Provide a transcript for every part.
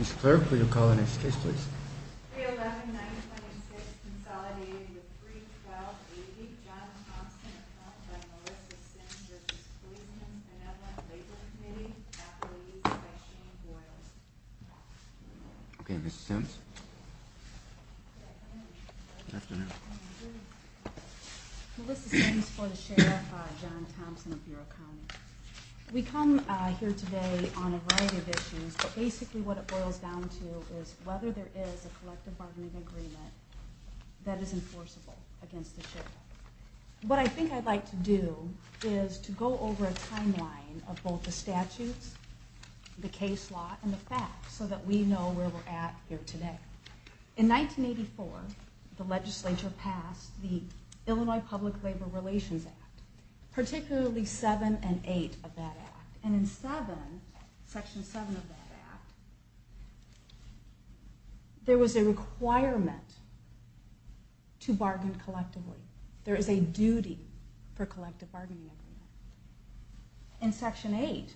Mr. Clerk, will you call the next case please? 311-926 consolidating the 312-80 John Thompson account by Melissa Sims v. Policemen's Benevolent Labor Committee, athletes by Shane Boyles Okay, Mrs. Sims? Good afternoon. Melissa Sims for the Sheriff John Thompson of Bureau County. We come here today on a variety of issues, but basically what it boils down to is whether there is a collective bargaining agreement that is enforceable against the Sheriff. What I think I'd like to do is to go over a timeline of both the statutes, the case law, and the facts so that we know where we're at here today. In 1984, the legislature passed the Illinois Public Labor Relations Act, particularly 7 and 8 of that act. And in 7, section 7 of that act, there was a requirement to bargain collectively. There is a duty for collective bargaining agreement. In section 8,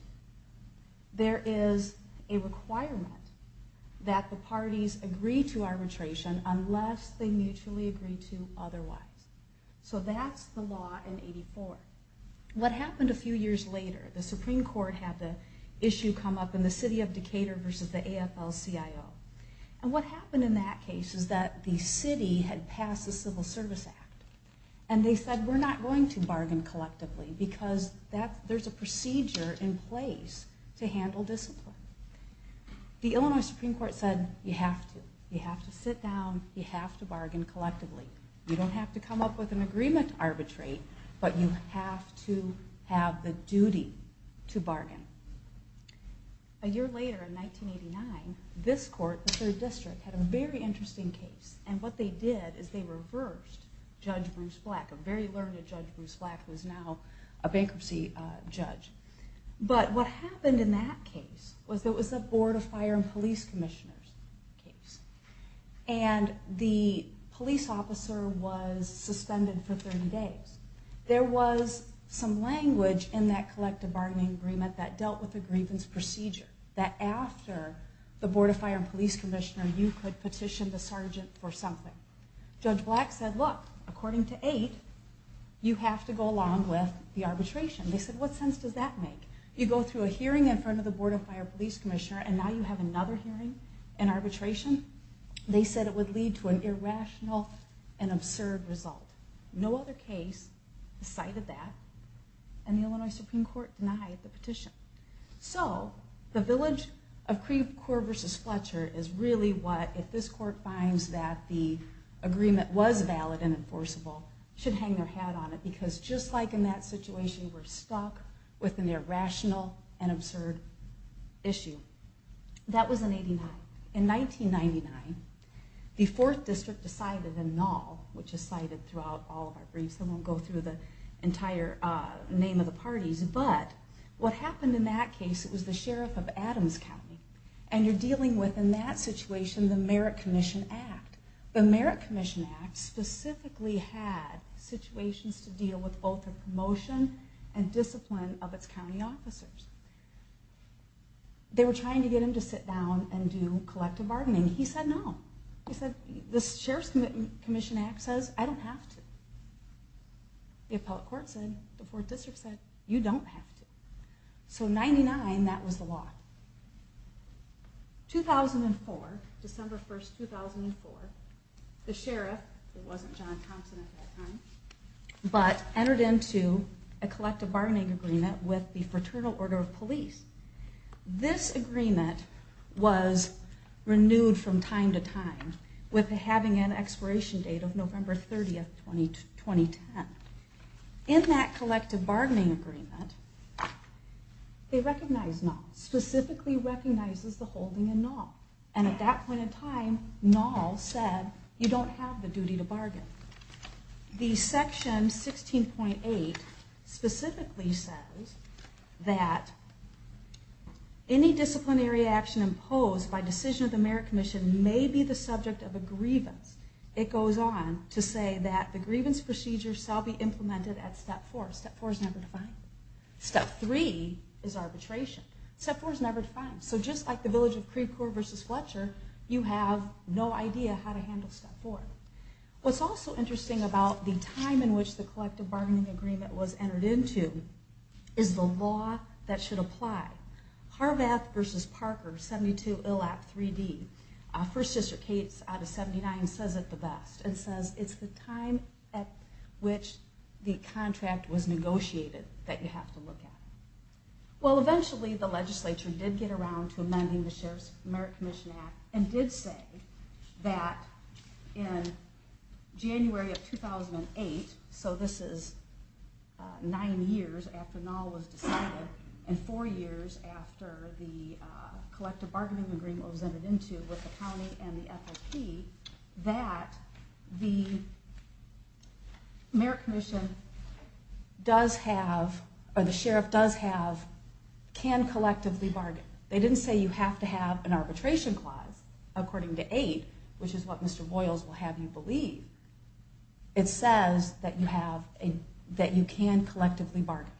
there is a requirement that the parties agree to arbitration unless they mutually agree to otherwise. So that's the law in 84. What happened a few years later, the Supreme Court had the issue come up in the city of Decatur versus the AFL-CIO. And what happened in that case is that the city had passed the Civil Service Act. And they said, we're not going to bargain collectively because there's a procedure in place to handle discipline. The Illinois Supreme Court said, you have to. You have to sit down, you have to bargain collectively. You don't have to come up with an agreement to arbitrate, but you have to have the duty to bargain. A year later, in 1989, this court, the third district, had a very interesting case. And what they did is they reversed Judge Bruce Black, a very learned Judge Bruce Black, who is now a bankruptcy judge. But what happened in that case was it was a Board of Fire and Police Commissioners case. And the police officer was suspended for 30 days. There was some language in that collective bargaining agreement that dealt with the grievance procedure. That after the Board of Fire and Police Commissioner, you could petition the sergeant for something. Judge Black said, look, according to 8, you have to go along with the arbitration. They said, what sense does that make? You go through a hearing in front of the Board of Fire and Police Commissioner, and now you have another hearing in arbitration? They said it would lead to an irrational and absurd result. No other case cited that. And the Illinois Supreme Court denied the petition. So the village of Creve Court versus Fletcher is really what, if this court finds that the agreement was valid and enforceable, should hang their hat on it. Because just like in that situation, we're stuck with an irrational and absurd issue. That was in 89. In 1999, the fourth district decided in Nall, which is cited throughout all of our briefs. I won't go through the entire name of the parties. But what happened in that case, it was the Sheriff of Adams County. And you're dealing with, in that situation, the Merit Commission Act. The Merit Commission Act specifically had situations to deal with both the promotion and discipline of its county officers. They were trying to get him to sit down and do collective bargaining. He said no. He said, the Sheriff's Commission Act says I don't have to. The appellate court said, the fourth district said, you don't have to. So in 99, that was the law. 2004, December 1, 2004, the Sheriff, it wasn't John Thompson at that time, but entered into a collective bargaining agreement with the Fraternal Order of Police. This agreement was renewed from time to time, with it having an expiration date of November 30, 2010. In that collective bargaining agreement, they recognized Nall. Specifically recognizes the holding in Nall. And at that point in time, Nall said, you don't have the duty to bargain. The section 16.8 specifically says that any disciplinary action imposed by decision of the Merit Commission may be the subject of a grievance. It goes on to say that the grievance procedure shall be implemented at step four. Step four is never defined. Step three is arbitration. Step four is never defined. So just like the village of Creekcore versus Fletcher, you have no idea how to handle step four. What's also interesting about the time in which the collective bargaining agreement was entered into is the law that should apply. Harvath versus Parker, 72 ILAP 3D. First District case out of 79 says it the best. It says it's the time at which the contract was negotiated that you have to look at. Well, eventually the legislature did get around to amending the Sheriff's Merit Commission Act and did say that in January of 2008, so this is nine years after Nall was decided and four years after the collective bargaining agreement was entered into with the county and the FOP, that the Merit Commission does have, or the Sheriff does have, can collectively bargain. They didn't say you have to have an arbitration clause, according to eight, which is what Mr. Boyles will have you believe. It says that you can collectively bargain.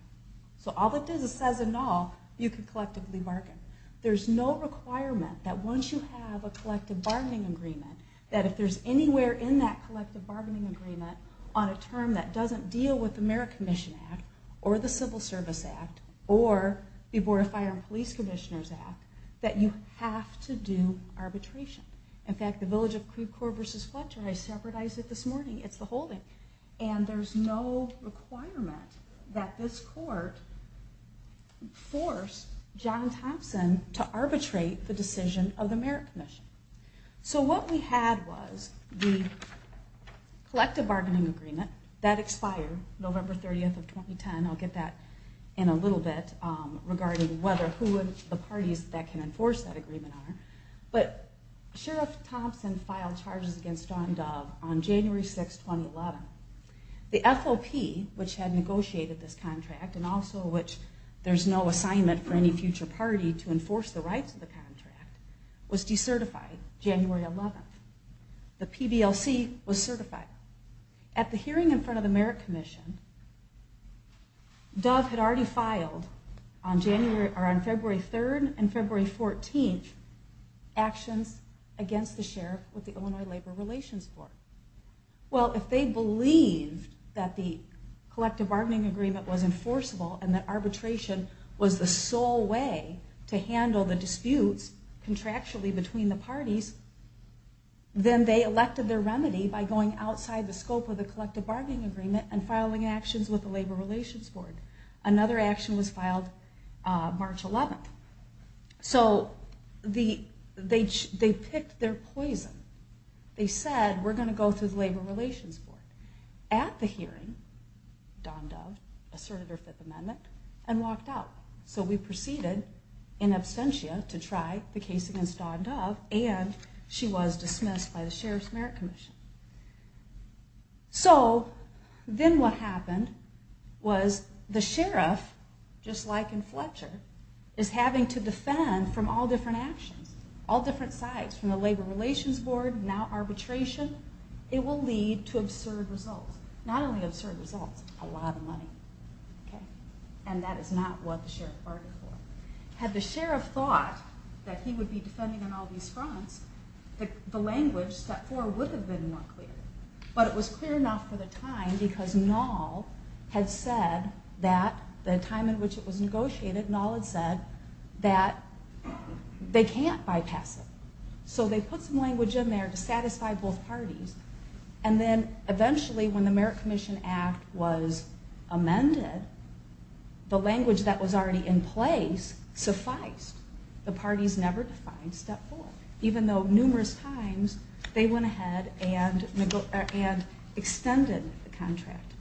So all it does is says in Nall, you can collectively bargain. There's no requirement that once you have a collective bargaining agreement, that if there's anywhere in that collective bargaining agreement on a term that doesn't deal with the Merit Commission Act, or the Civil Service Act, or the Border Fire and Police Commissioners Act, that you have to do arbitration. In fact, the village of Creve Coeur versus Fletcher, I separatized it this morning, it's the holding. And there's no requirement that this court force John Thompson to arbitrate the decision of the Merit Commission. So what we had was the collective bargaining agreement that expired November 30th of 2010, I'll get that in a little bit, regarding whether who the parties that can enforce that agreement are. But Sheriff Thompson filed charges against John Dove on January 6, 2011. The FOP, which had negotiated this contract, and also which there's no assignment for any future party to enforce the rights of the contract, was decertified January 11th. The PBLC was certified. At the hearing in front of the Merit Commission, Dove had already filed on February 3rd and February 14th actions against the Sheriff with the Illinois Labor Relations Court. Well, if they believed that the collective bargaining agreement was enforceable, and that arbitration was the sole way to handle the disputes contractually between the parties, then they elected their remedy by going outside the scope of the collective bargaining agreement and filing actions with the Labor Relations Board. Another action was filed March 11th. So they picked their poison. They said, we're going to go through the Labor Relations Board. At the hearing, Don Dove asserted her Fifth Amendment and walked out. So we proceeded in absentia to try the case against Don Dove. And she was dismissed by the Sheriff's Merit Commission. So then what happened was the Sheriff, just like in Fletcher, is having to defend from all different actions, all different sides, from the Labor Relations Board, now arbitration. It will lead to absurd results. Not only absurd results, a lot of money. And that is not what the Sheriff bargained for. Had the Sheriff thought that he would be defending on all these fronts, the language set forth would have been more clear. But it was clear enough for the time because Nall had said that the time in which it was negotiated, Nall had said that they can't bypass it. So they put some language in there to satisfy both parties. And then eventually when the Merit Commission Act was amended, the language that was already in place sufficed. The parties never defined step four. Even though numerous times they went ahead and extended the contract.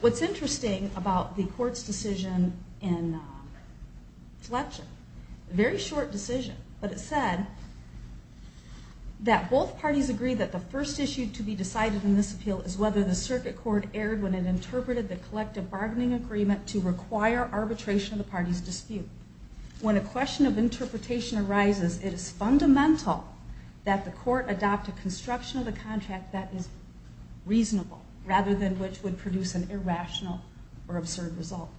What's interesting about the court's decision in Fletcher, very short decision, but it said that both parties agree that the first issue to be decided in this appeal is whether the circuit court erred when it interpreted the collective bargaining agreement to require arbitration of the party's dispute. When a question of interpretation arises, it is fundamental that the court adopt a construction of the contract that is reasonable rather than which would produce an irrational or absurd result.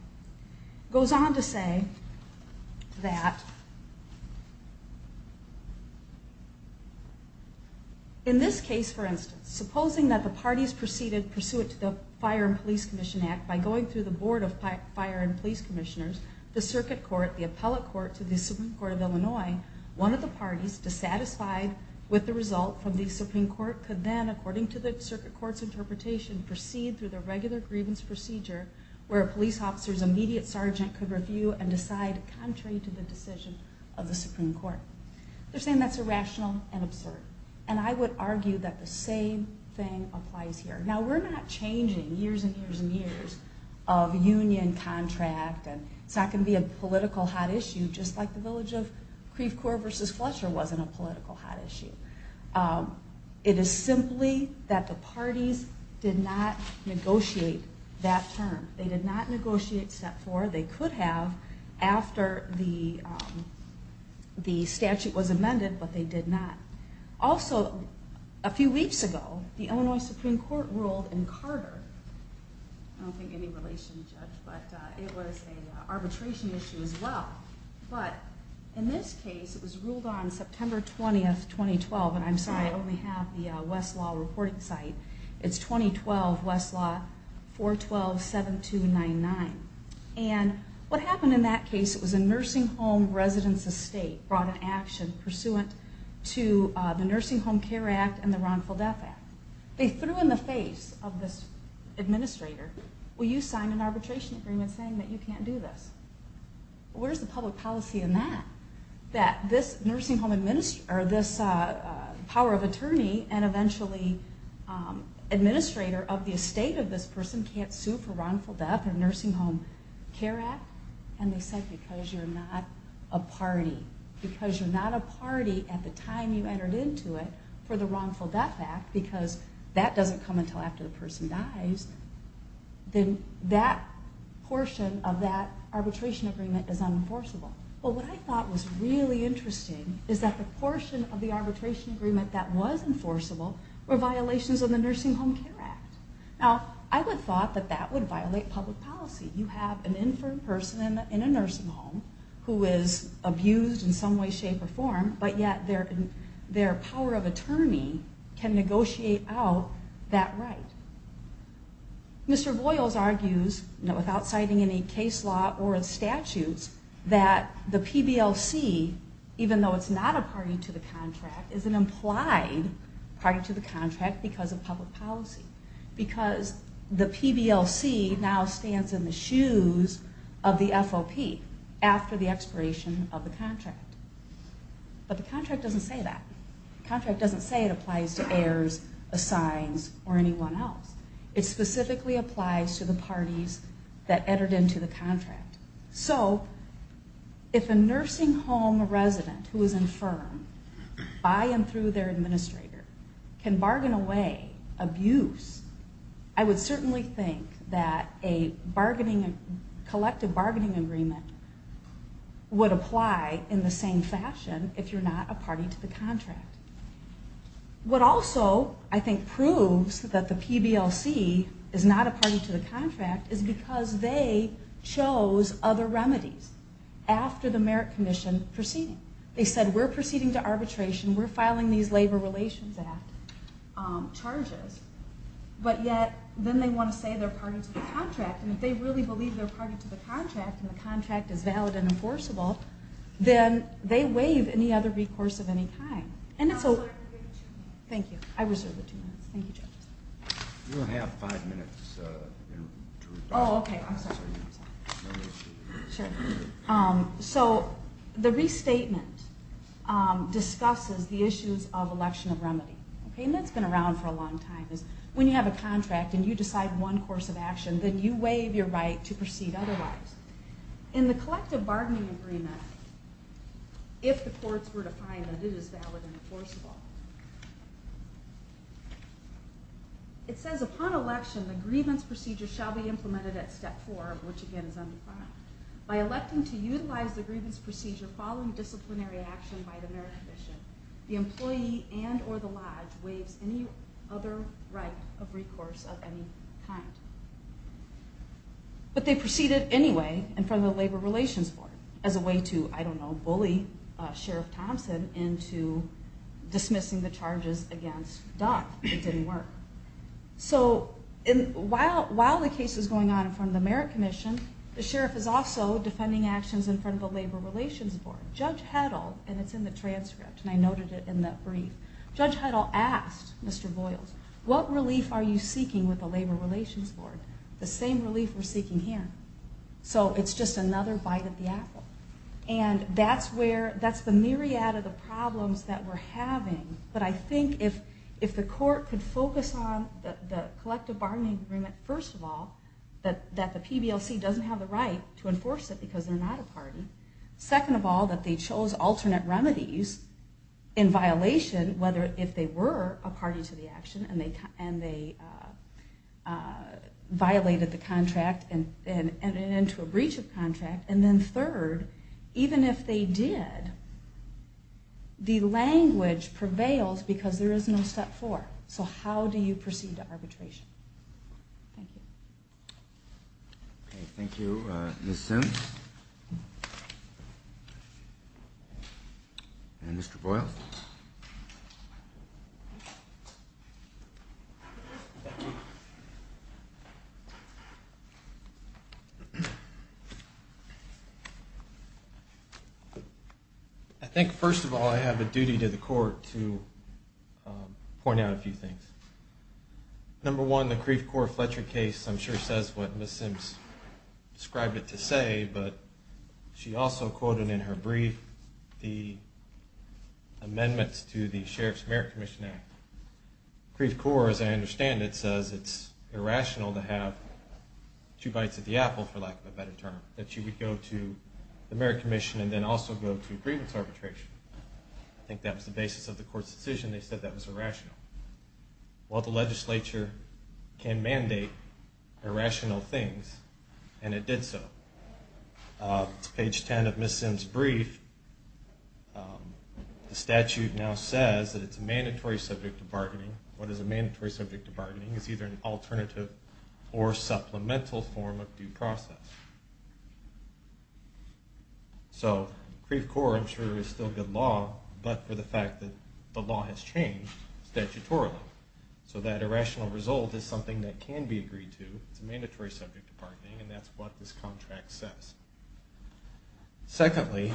It goes on to say that in this case, for instance, supposing that the parties proceeded pursuant to the Fire and Police Commission Act by going through the Board of Fire and Police Commissioners, the circuit court, the appellate court to the Supreme Court of Illinois, one of the parties dissatisfied with the result from the Supreme Court could then, according to the circuit court's interpretation, proceed through the regular grievance procedure where a police officer's immediate sergeant could review and decide contrary to the decision of the Supreme Court. They're saying that's irrational and absurd. And I would argue that the same thing applies here. Now, we're not changing years and years and years of union contract and it's not going to be a political hot issue just like the village of Creve Coeur versus Fletcher wasn't a political hot issue. It is simply that the parties did not negotiate that term. They did not negotiate Step 4. They could have after the statute was amended, but they did not. Also, a few weeks ago, the Illinois Supreme Court ruled in Carter. I don't think any relation, Judge, but it was an arbitration issue as well. But in this case, it was ruled on September 20th, 2012, and I'm sorry, I only have the Westlaw reporting site. It's 2012, Westlaw, 412-7299. And what happened in that case, it was a nursing home residence estate brought in action pursuant to the Nursing Home Care Act and the Ron Fildeff Act. They threw in the face of this administrator, will you sign an arbitration agreement saying that you can't do this? Where's the public policy in that? That this nursing home administrator or this power of attorney and eventually administrator of the estate of this person can't sue for Ron Fildefff or Nursing Home Care Act? And they said, because you're not a party. Because you're not a party at the time you entered into it for the Ron Fildefff Act because that doesn't come until after the person dies. Then that portion of that arbitration agreement is unenforceable. But what I thought was really interesting is that the portion of the arbitration agreement that was enforceable were violations of the Nursing Home Care Act. Now, I would have thought that that would violate public policy. You have an inferred person in a nursing home who is abused in some way, shape, or form, but yet their power of attorney can negotiate out that right. Mr. Voyles argues, without citing any case law or statutes, that the PBLC, even though it's not a party to the contract, is an implied party to the contract because of public policy. Because the PBLC now stands in the shoes of the FOP after the expiration of the contract. But the contract doesn't say that. The contract doesn't say it applies to heirs, assigns, or anyone else. It specifically applies to the parties that entered into the contract. So, if a nursing home resident who is infirmed by and through their administrator can bargain away abuse, I would certainly think that a collective bargaining agreement would apply in the same fashion if you're not a party to the contract. What also, I think, proves that the PBLC is not a party to the contract is because they chose other remedies after the Merit Commission proceeding. They said, we're proceeding to arbitration. We're filing these Labor Relations Act charges. But yet, then they want to say they're a party to the contract. And if they really believe they're a party to the contract, and the contract is valid and enforceable, then they waive any other recourse of any kind. And it's a... Thank you. I reserve the two minutes. Thank you, judges. You only have five minutes to respond. Oh, okay. I'm sorry. No issue. Sure. So, the restatement discusses the issues of election of remedy. And that's been around for a long time. When you have a contract and you decide one course of action, then you waive your right to proceed otherwise. In the collective bargaining agreement, if the courts were to find that it is valid and enforceable, it says, upon election, the grievance procedure shall be implemented at step four, which, again, is undefined. By electing to utilize the grievance procedure following disciplinary action by the Merit Commission, the employee and or the lodge waives any other right of recourse of any kind. But they proceeded anyway in front of the Labor Relations Board as a way to, I don't know, bully Sheriff Thompson into dismissing the charges against Don. It didn't work. So, while the case is going on in front of the Merit Commission, the sheriff is also defending actions in front of the Labor Relations Board. Judge Heddle, and it's in the transcript, and I noted it in the brief, Judge Heddle asked Mr. Boyles, what relief are you seeking with the Labor Relations Board? The same relief we're seeking here. So it's just another bite of the apple. And that's the myriad of the problems that we're having. But I think if the court could focus on the collective bargaining agreement, first of all, that the PBLC doesn't have the right to enforce it because they're not a party. Second of all, that they chose alternate remedies in violation, whether if they were a party to the action and they violated the contract and entered into a breach of contract. And then third, even if they did, the language prevails because there is no step four. So how do you proceed to arbitration? Thank you. Okay, thank you, Ms. Sims. And Mr. Boyles. I think, first of all, I have a duty to the court to point out a few things. Number one, the Kreeve-Kore-Fletcher case, I'm sure says what Ms. Sims described it to say, but she also quoted in her brief the amendments to the Sheriff's Merit Commission Act. Kreeve-Kore, as I understand it, says it's irrational to have two bites of the apple, for lack of a better term, that she would go to the Merit Commission and then also go to agreements arbitration. I think that was the basis of the court's decision. They said that was irrational. Well, the legislature can mandate irrational things, and it did so. It's page 10 of Ms. Sims' brief. The statute now says that it's a mandatory subject of bargaining. What is a mandatory subject of bargaining is either an alternative or supplemental form of due process. So Kreeve-Kore, I'm sure, is still good law, but for the fact that the law has changed statutorily. So that irrational result is something that can be agreed to. It's a mandatory subject of bargaining, and that's what this contract says. Secondly,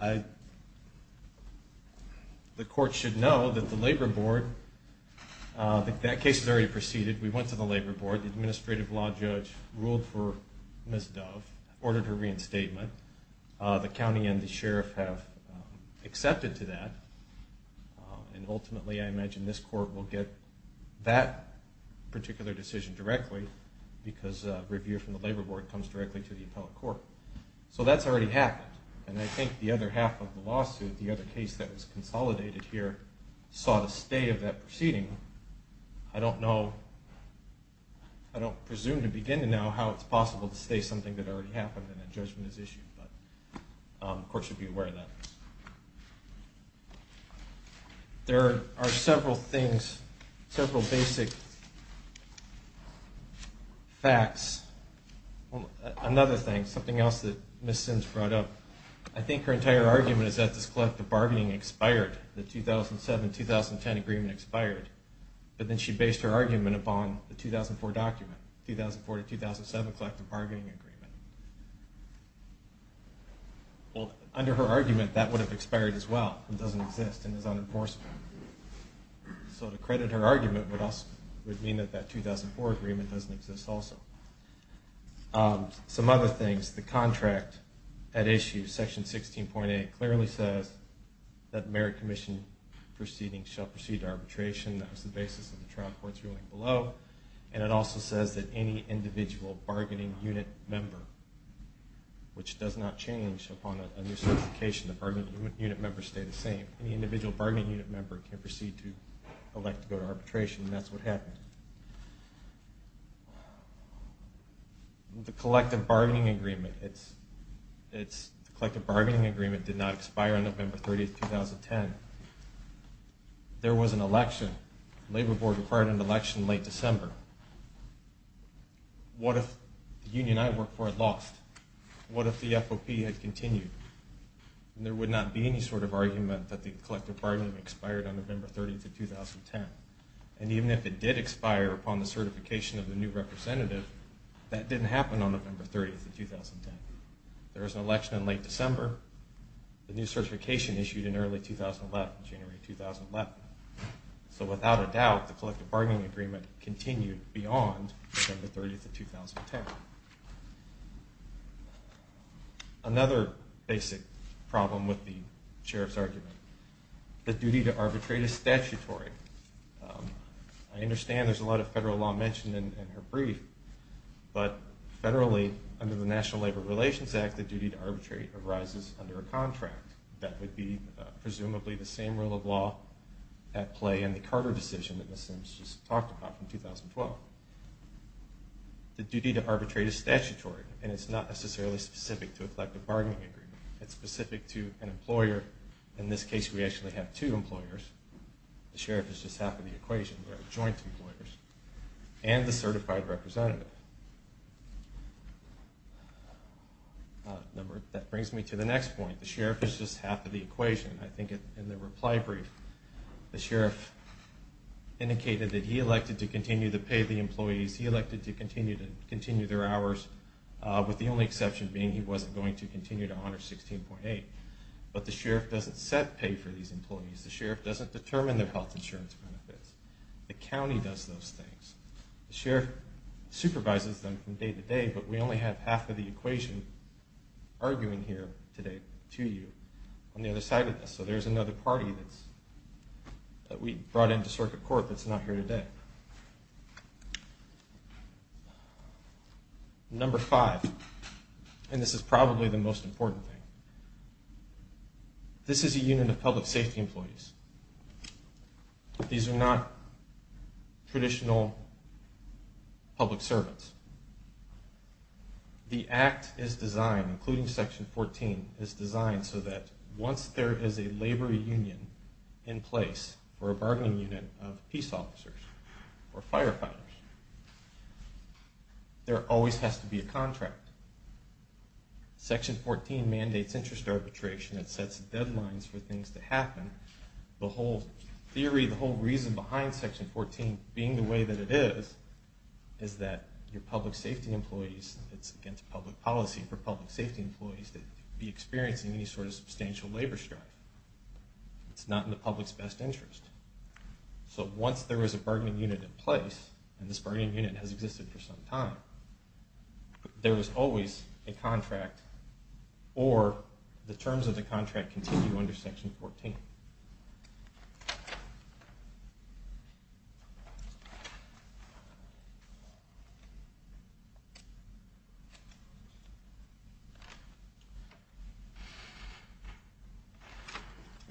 the court should know that the labor board, that case was already preceded. We went to the labor board. The administrative law judge ruled for Ms. Dove, ordered her reinstatement. The county and the sheriff have accepted to that, and ultimately I imagine this court will get that particular decision directly because review from the labor board comes directly to the appellate court. So that's already happened, and I think the other half of the lawsuit, the other case that was consolidated here, saw the stay of that proceeding. I don't know. I don't presume to begin to know how it's possible to stay something that already happened and a judgment is issued, but the court should be aware of that. There are several things, several basic facts. Another thing, something else that Ms. Sims brought up, I think her entire argument is that this collective bargaining expired, the 2007-2010 agreement expired, but then she based her argument upon the 2004 document, 2004-2007 collective bargaining agreement. Under her argument, that would have expired as well. It doesn't exist and is unenforceable. So to credit her argument would mean that that 2004 agreement doesn't exist also. Some other things, the contract at issue, section 16.8, clearly says that merit commission proceedings shall proceed to arbitration. That was the basis of the trial court's ruling below, and it also says that any individual bargaining unit member, which does not change upon a new certification. The bargaining unit members stay the same. Any individual bargaining unit member can proceed to elect to go to arbitration, and that's what happened. The collective bargaining agreement did not expire on November 30, 2010. There was an election. The labor board required an election in late December. What if the union I worked for had lost? What if the FOP had continued? There would not be any sort of argument that the collective bargaining expired on November 30, 2010. And even if it did expire upon the certification of the new representative, that didn't happen on November 30, 2010. There was an election in late December. The new certification issued in early 2011, January 2011. So without a doubt, the collective bargaining agreement continued beyond November 30, 2010. Another basic problem with the sheriff's argument, the duty to arbitrate is statutory. I understand there's a lot of federal law mentioned in her brief, but federally under the National Labor Relations Act, the duty to arbitrate arises under a contract. That would be presumably the same rule of law at play in the Carter decision that Ms. Simms just talked about from 2012. The duty to arbitrate is statutory, and it's not necessarily specific to a collective bargaining agreement. It's specific to an employer. In this case, we actually have two employers. The sheriff is just half of the equation. We have joint employers and the certified representative. That brings me to the next point. The sheriff is just half of the equation. I think in the reply brief, the sheriff indicated that he elected to continue to pay the employees. He elected to continue their hours, with the only exception being he wasn't going to continue to honor 16.8. But the sheriff doesn't set pay for these employees. The sheriff doesn't determine their health insurance benefits. The county does those things. The sheriff supervises them from day to day, but we only have half of the equation arguing here today to you on the other side of this. So there's another party that we brought into circuit court that's not here today. Number five, and this is probably the most important thing. This is a unit of public safety employees. These are not traditional public servants. The act is designed, including Section 14, is designed so that once there is a labor union in place for a bargaining unit of peace officers or firefighters, there always has to be a contract. Section 14 mandates interest arbitration. It sets deadlines for things to happen. The whole theory, the whole reason behind Section 14 being the way that it is, is that your public safety employees, it's against public policy for public safety employees to be experiencing any sort of substantial labor strife. It's not in the public's best interest. So once there is a bargaining unit in place, and this bargaining unit has existed for some time, there is always a contract, or the terms of the contract continue under Section 14.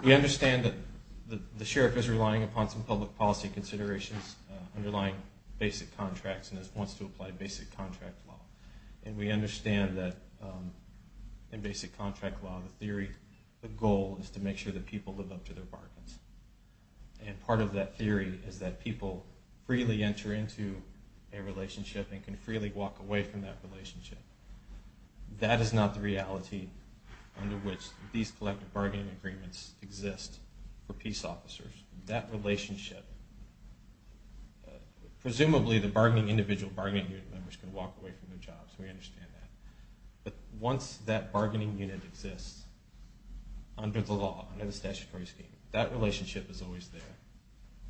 We understand that the sheriff is relying upon some public policy considerations underlying basic contracts and wants to apply basic contract law. We understand that in basic contract law, the theory, the goal is to make sure that people live up to their bargains. Part of that theory is that people freely enter into a relationship and can freely walk away from that relationship. That is not the reality under which these collective bargaining agreements exist for peace officers. That relationship, presumably the individual bargaining unit members can walk away from their jobs. We understand that. But once that bargaining unit exists under the law, under the statutory scheme, that relationship is always there,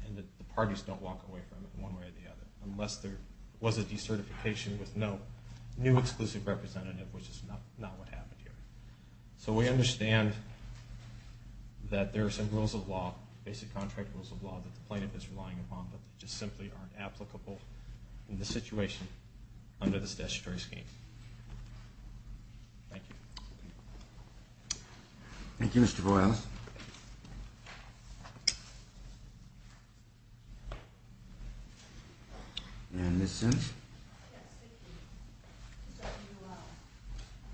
and the parties don't walk away from it one way or the other, unless there was a decertification with no new exclusive representative, which is not what happened here. So we understand that there are some rules of law, basic contract rules of law, that the plaintiff is relying upon, but they just simply aren't applicable in this situation under this statutory scheme. Thank you. Thank you, Mr. Boyles. And Ms. Sims? Yes, thank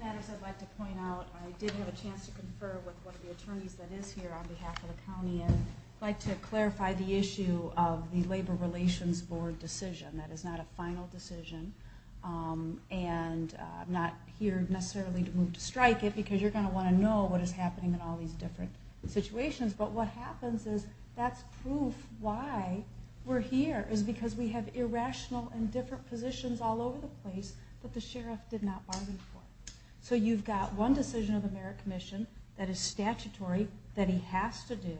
you. As I'd like to point out, I did have a chance to confer with one of the attorneys that is here on behalf of the county, and I'd like to clarify the issue of the Labor Relations Board decision. That is not a final decision, and I'm not here necessarily to move to strike it, because you're going to want to know what is happening in all these different situations. But what happens is that's proof why we're here, is because we have irrational and different positions all over the place that the sheriff did not bargain for. So you've got one decision of the Merit Commission that is statutory, that he has to do,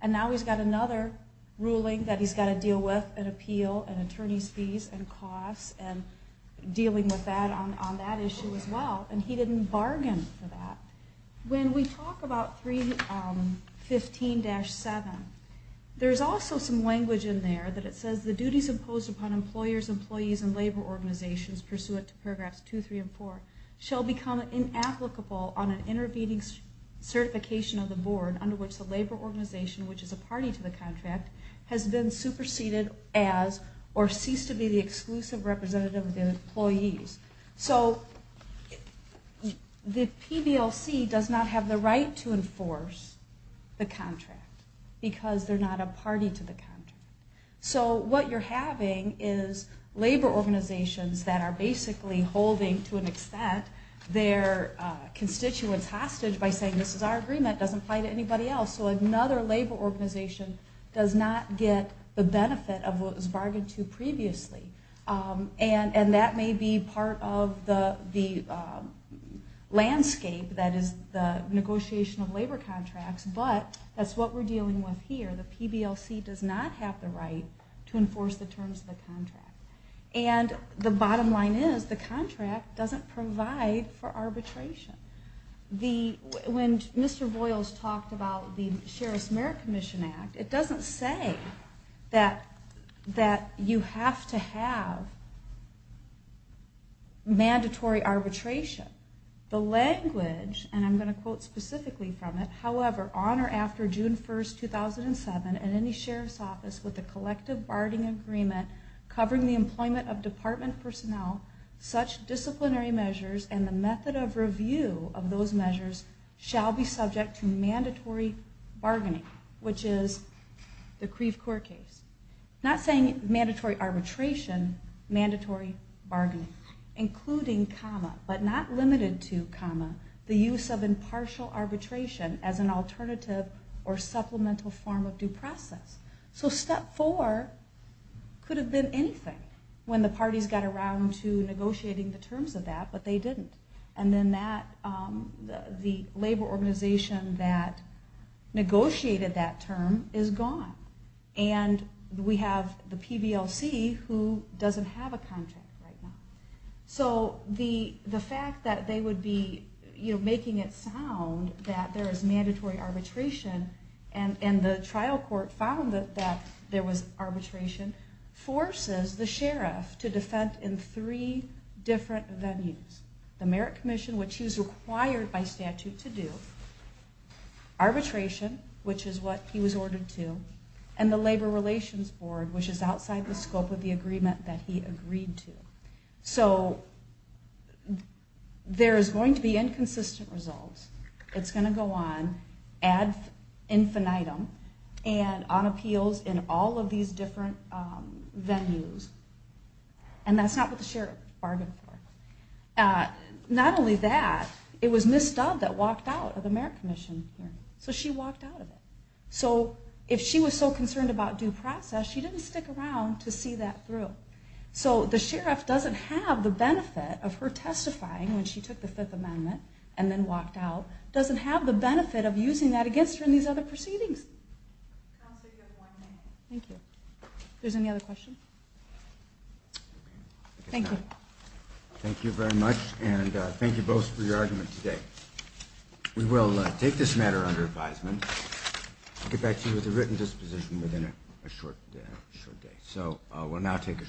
and now he's got another ruling that he's got to deal with, an appeal, an attorney's fees and costs, and dealing with that on that issue as well, and he didn't bargain for that. When we talk about 315-7, there's also some language in there that it says, the duties imposed upon employers, employees, and labor organizations pursuant to paragraphs 2, 3, and 4 shall become inapplicable on an intervening certification of the board under which the labor organization, which is a party to the contract, has been superseded as or ceased to be the exclusive representative of the employees. So the PBLC does not have the right to enforce the contract, because they're not a party to the contract. So what you're having is labor organizations that are basically holding, to an extent, their constituents hostage by saying, this is our agreement, doesn't apply to anybody else. So another labor organization does not get the benefit of what was bargained to previously. And that may be part of the landscape that is the negotiation of labor contracts, but that's what we're dealing with here. The PBLC does not have the right to enforce the terms of the contract. And the bottom line is, the contract doesn't provide for arbitration. When Mr. Boyles talked about the Sheriff's Merit Commission Act, it doesn't say that you have to have mandatory arbitration. The language, and I'm going to quote specifically from it, however, on or after June 1st, 2007, and any Sheriff's Office with a collective bargaining agreement covering the employment of department personnel, such disciplinary measures and the method of review of those measures shall be subject to mandatory bargaining, which is the Creve Coeur case. Not saying mandatory arbitration, mandatory bargaining, including comma, but not limited to comma, the use of impartial arbitration as an alternative or supplemental form of due process. So step four could have been anything when the parties got around to negotiating the terms of that, but they didn't. And then the labor organization that negotiated that term is gone. And we have the PBLC who doesn't have a contract right now. So the fact that they would be making it sound that there is mandatory arbitration, and the trial court found that there was arbitration, forces the Sheriff to defend in three different venues. The Merit Commission, which he was required by statute to do, arbitration, which is what he was ordered to, and the Labor Relations Board, which is outside the scope of the agreement that he agreed to. So there is going to be inconsistent results. It's going to go on ad infinitum and on appeals in all of these different venues. And that's not what the Sheriff bargained for. Not only that, it was Ms. Stubb that walked out of the Merit Commission. So she walked out of it. So if she was so concerned about due process, she didn't stick around to see that through. So the Sheriff doesn't have the benefit of her testifying when she took the Fifth Amendment and then walked out, doesn't have the benefit of using that against her in these other proceedings. Thank you. There's any other questions? Thank you. Thank you very much, and thank you both for your argument today. We will take this matter under advisement and get back to you with a written disposition within a short day. So we'll now take a short recess.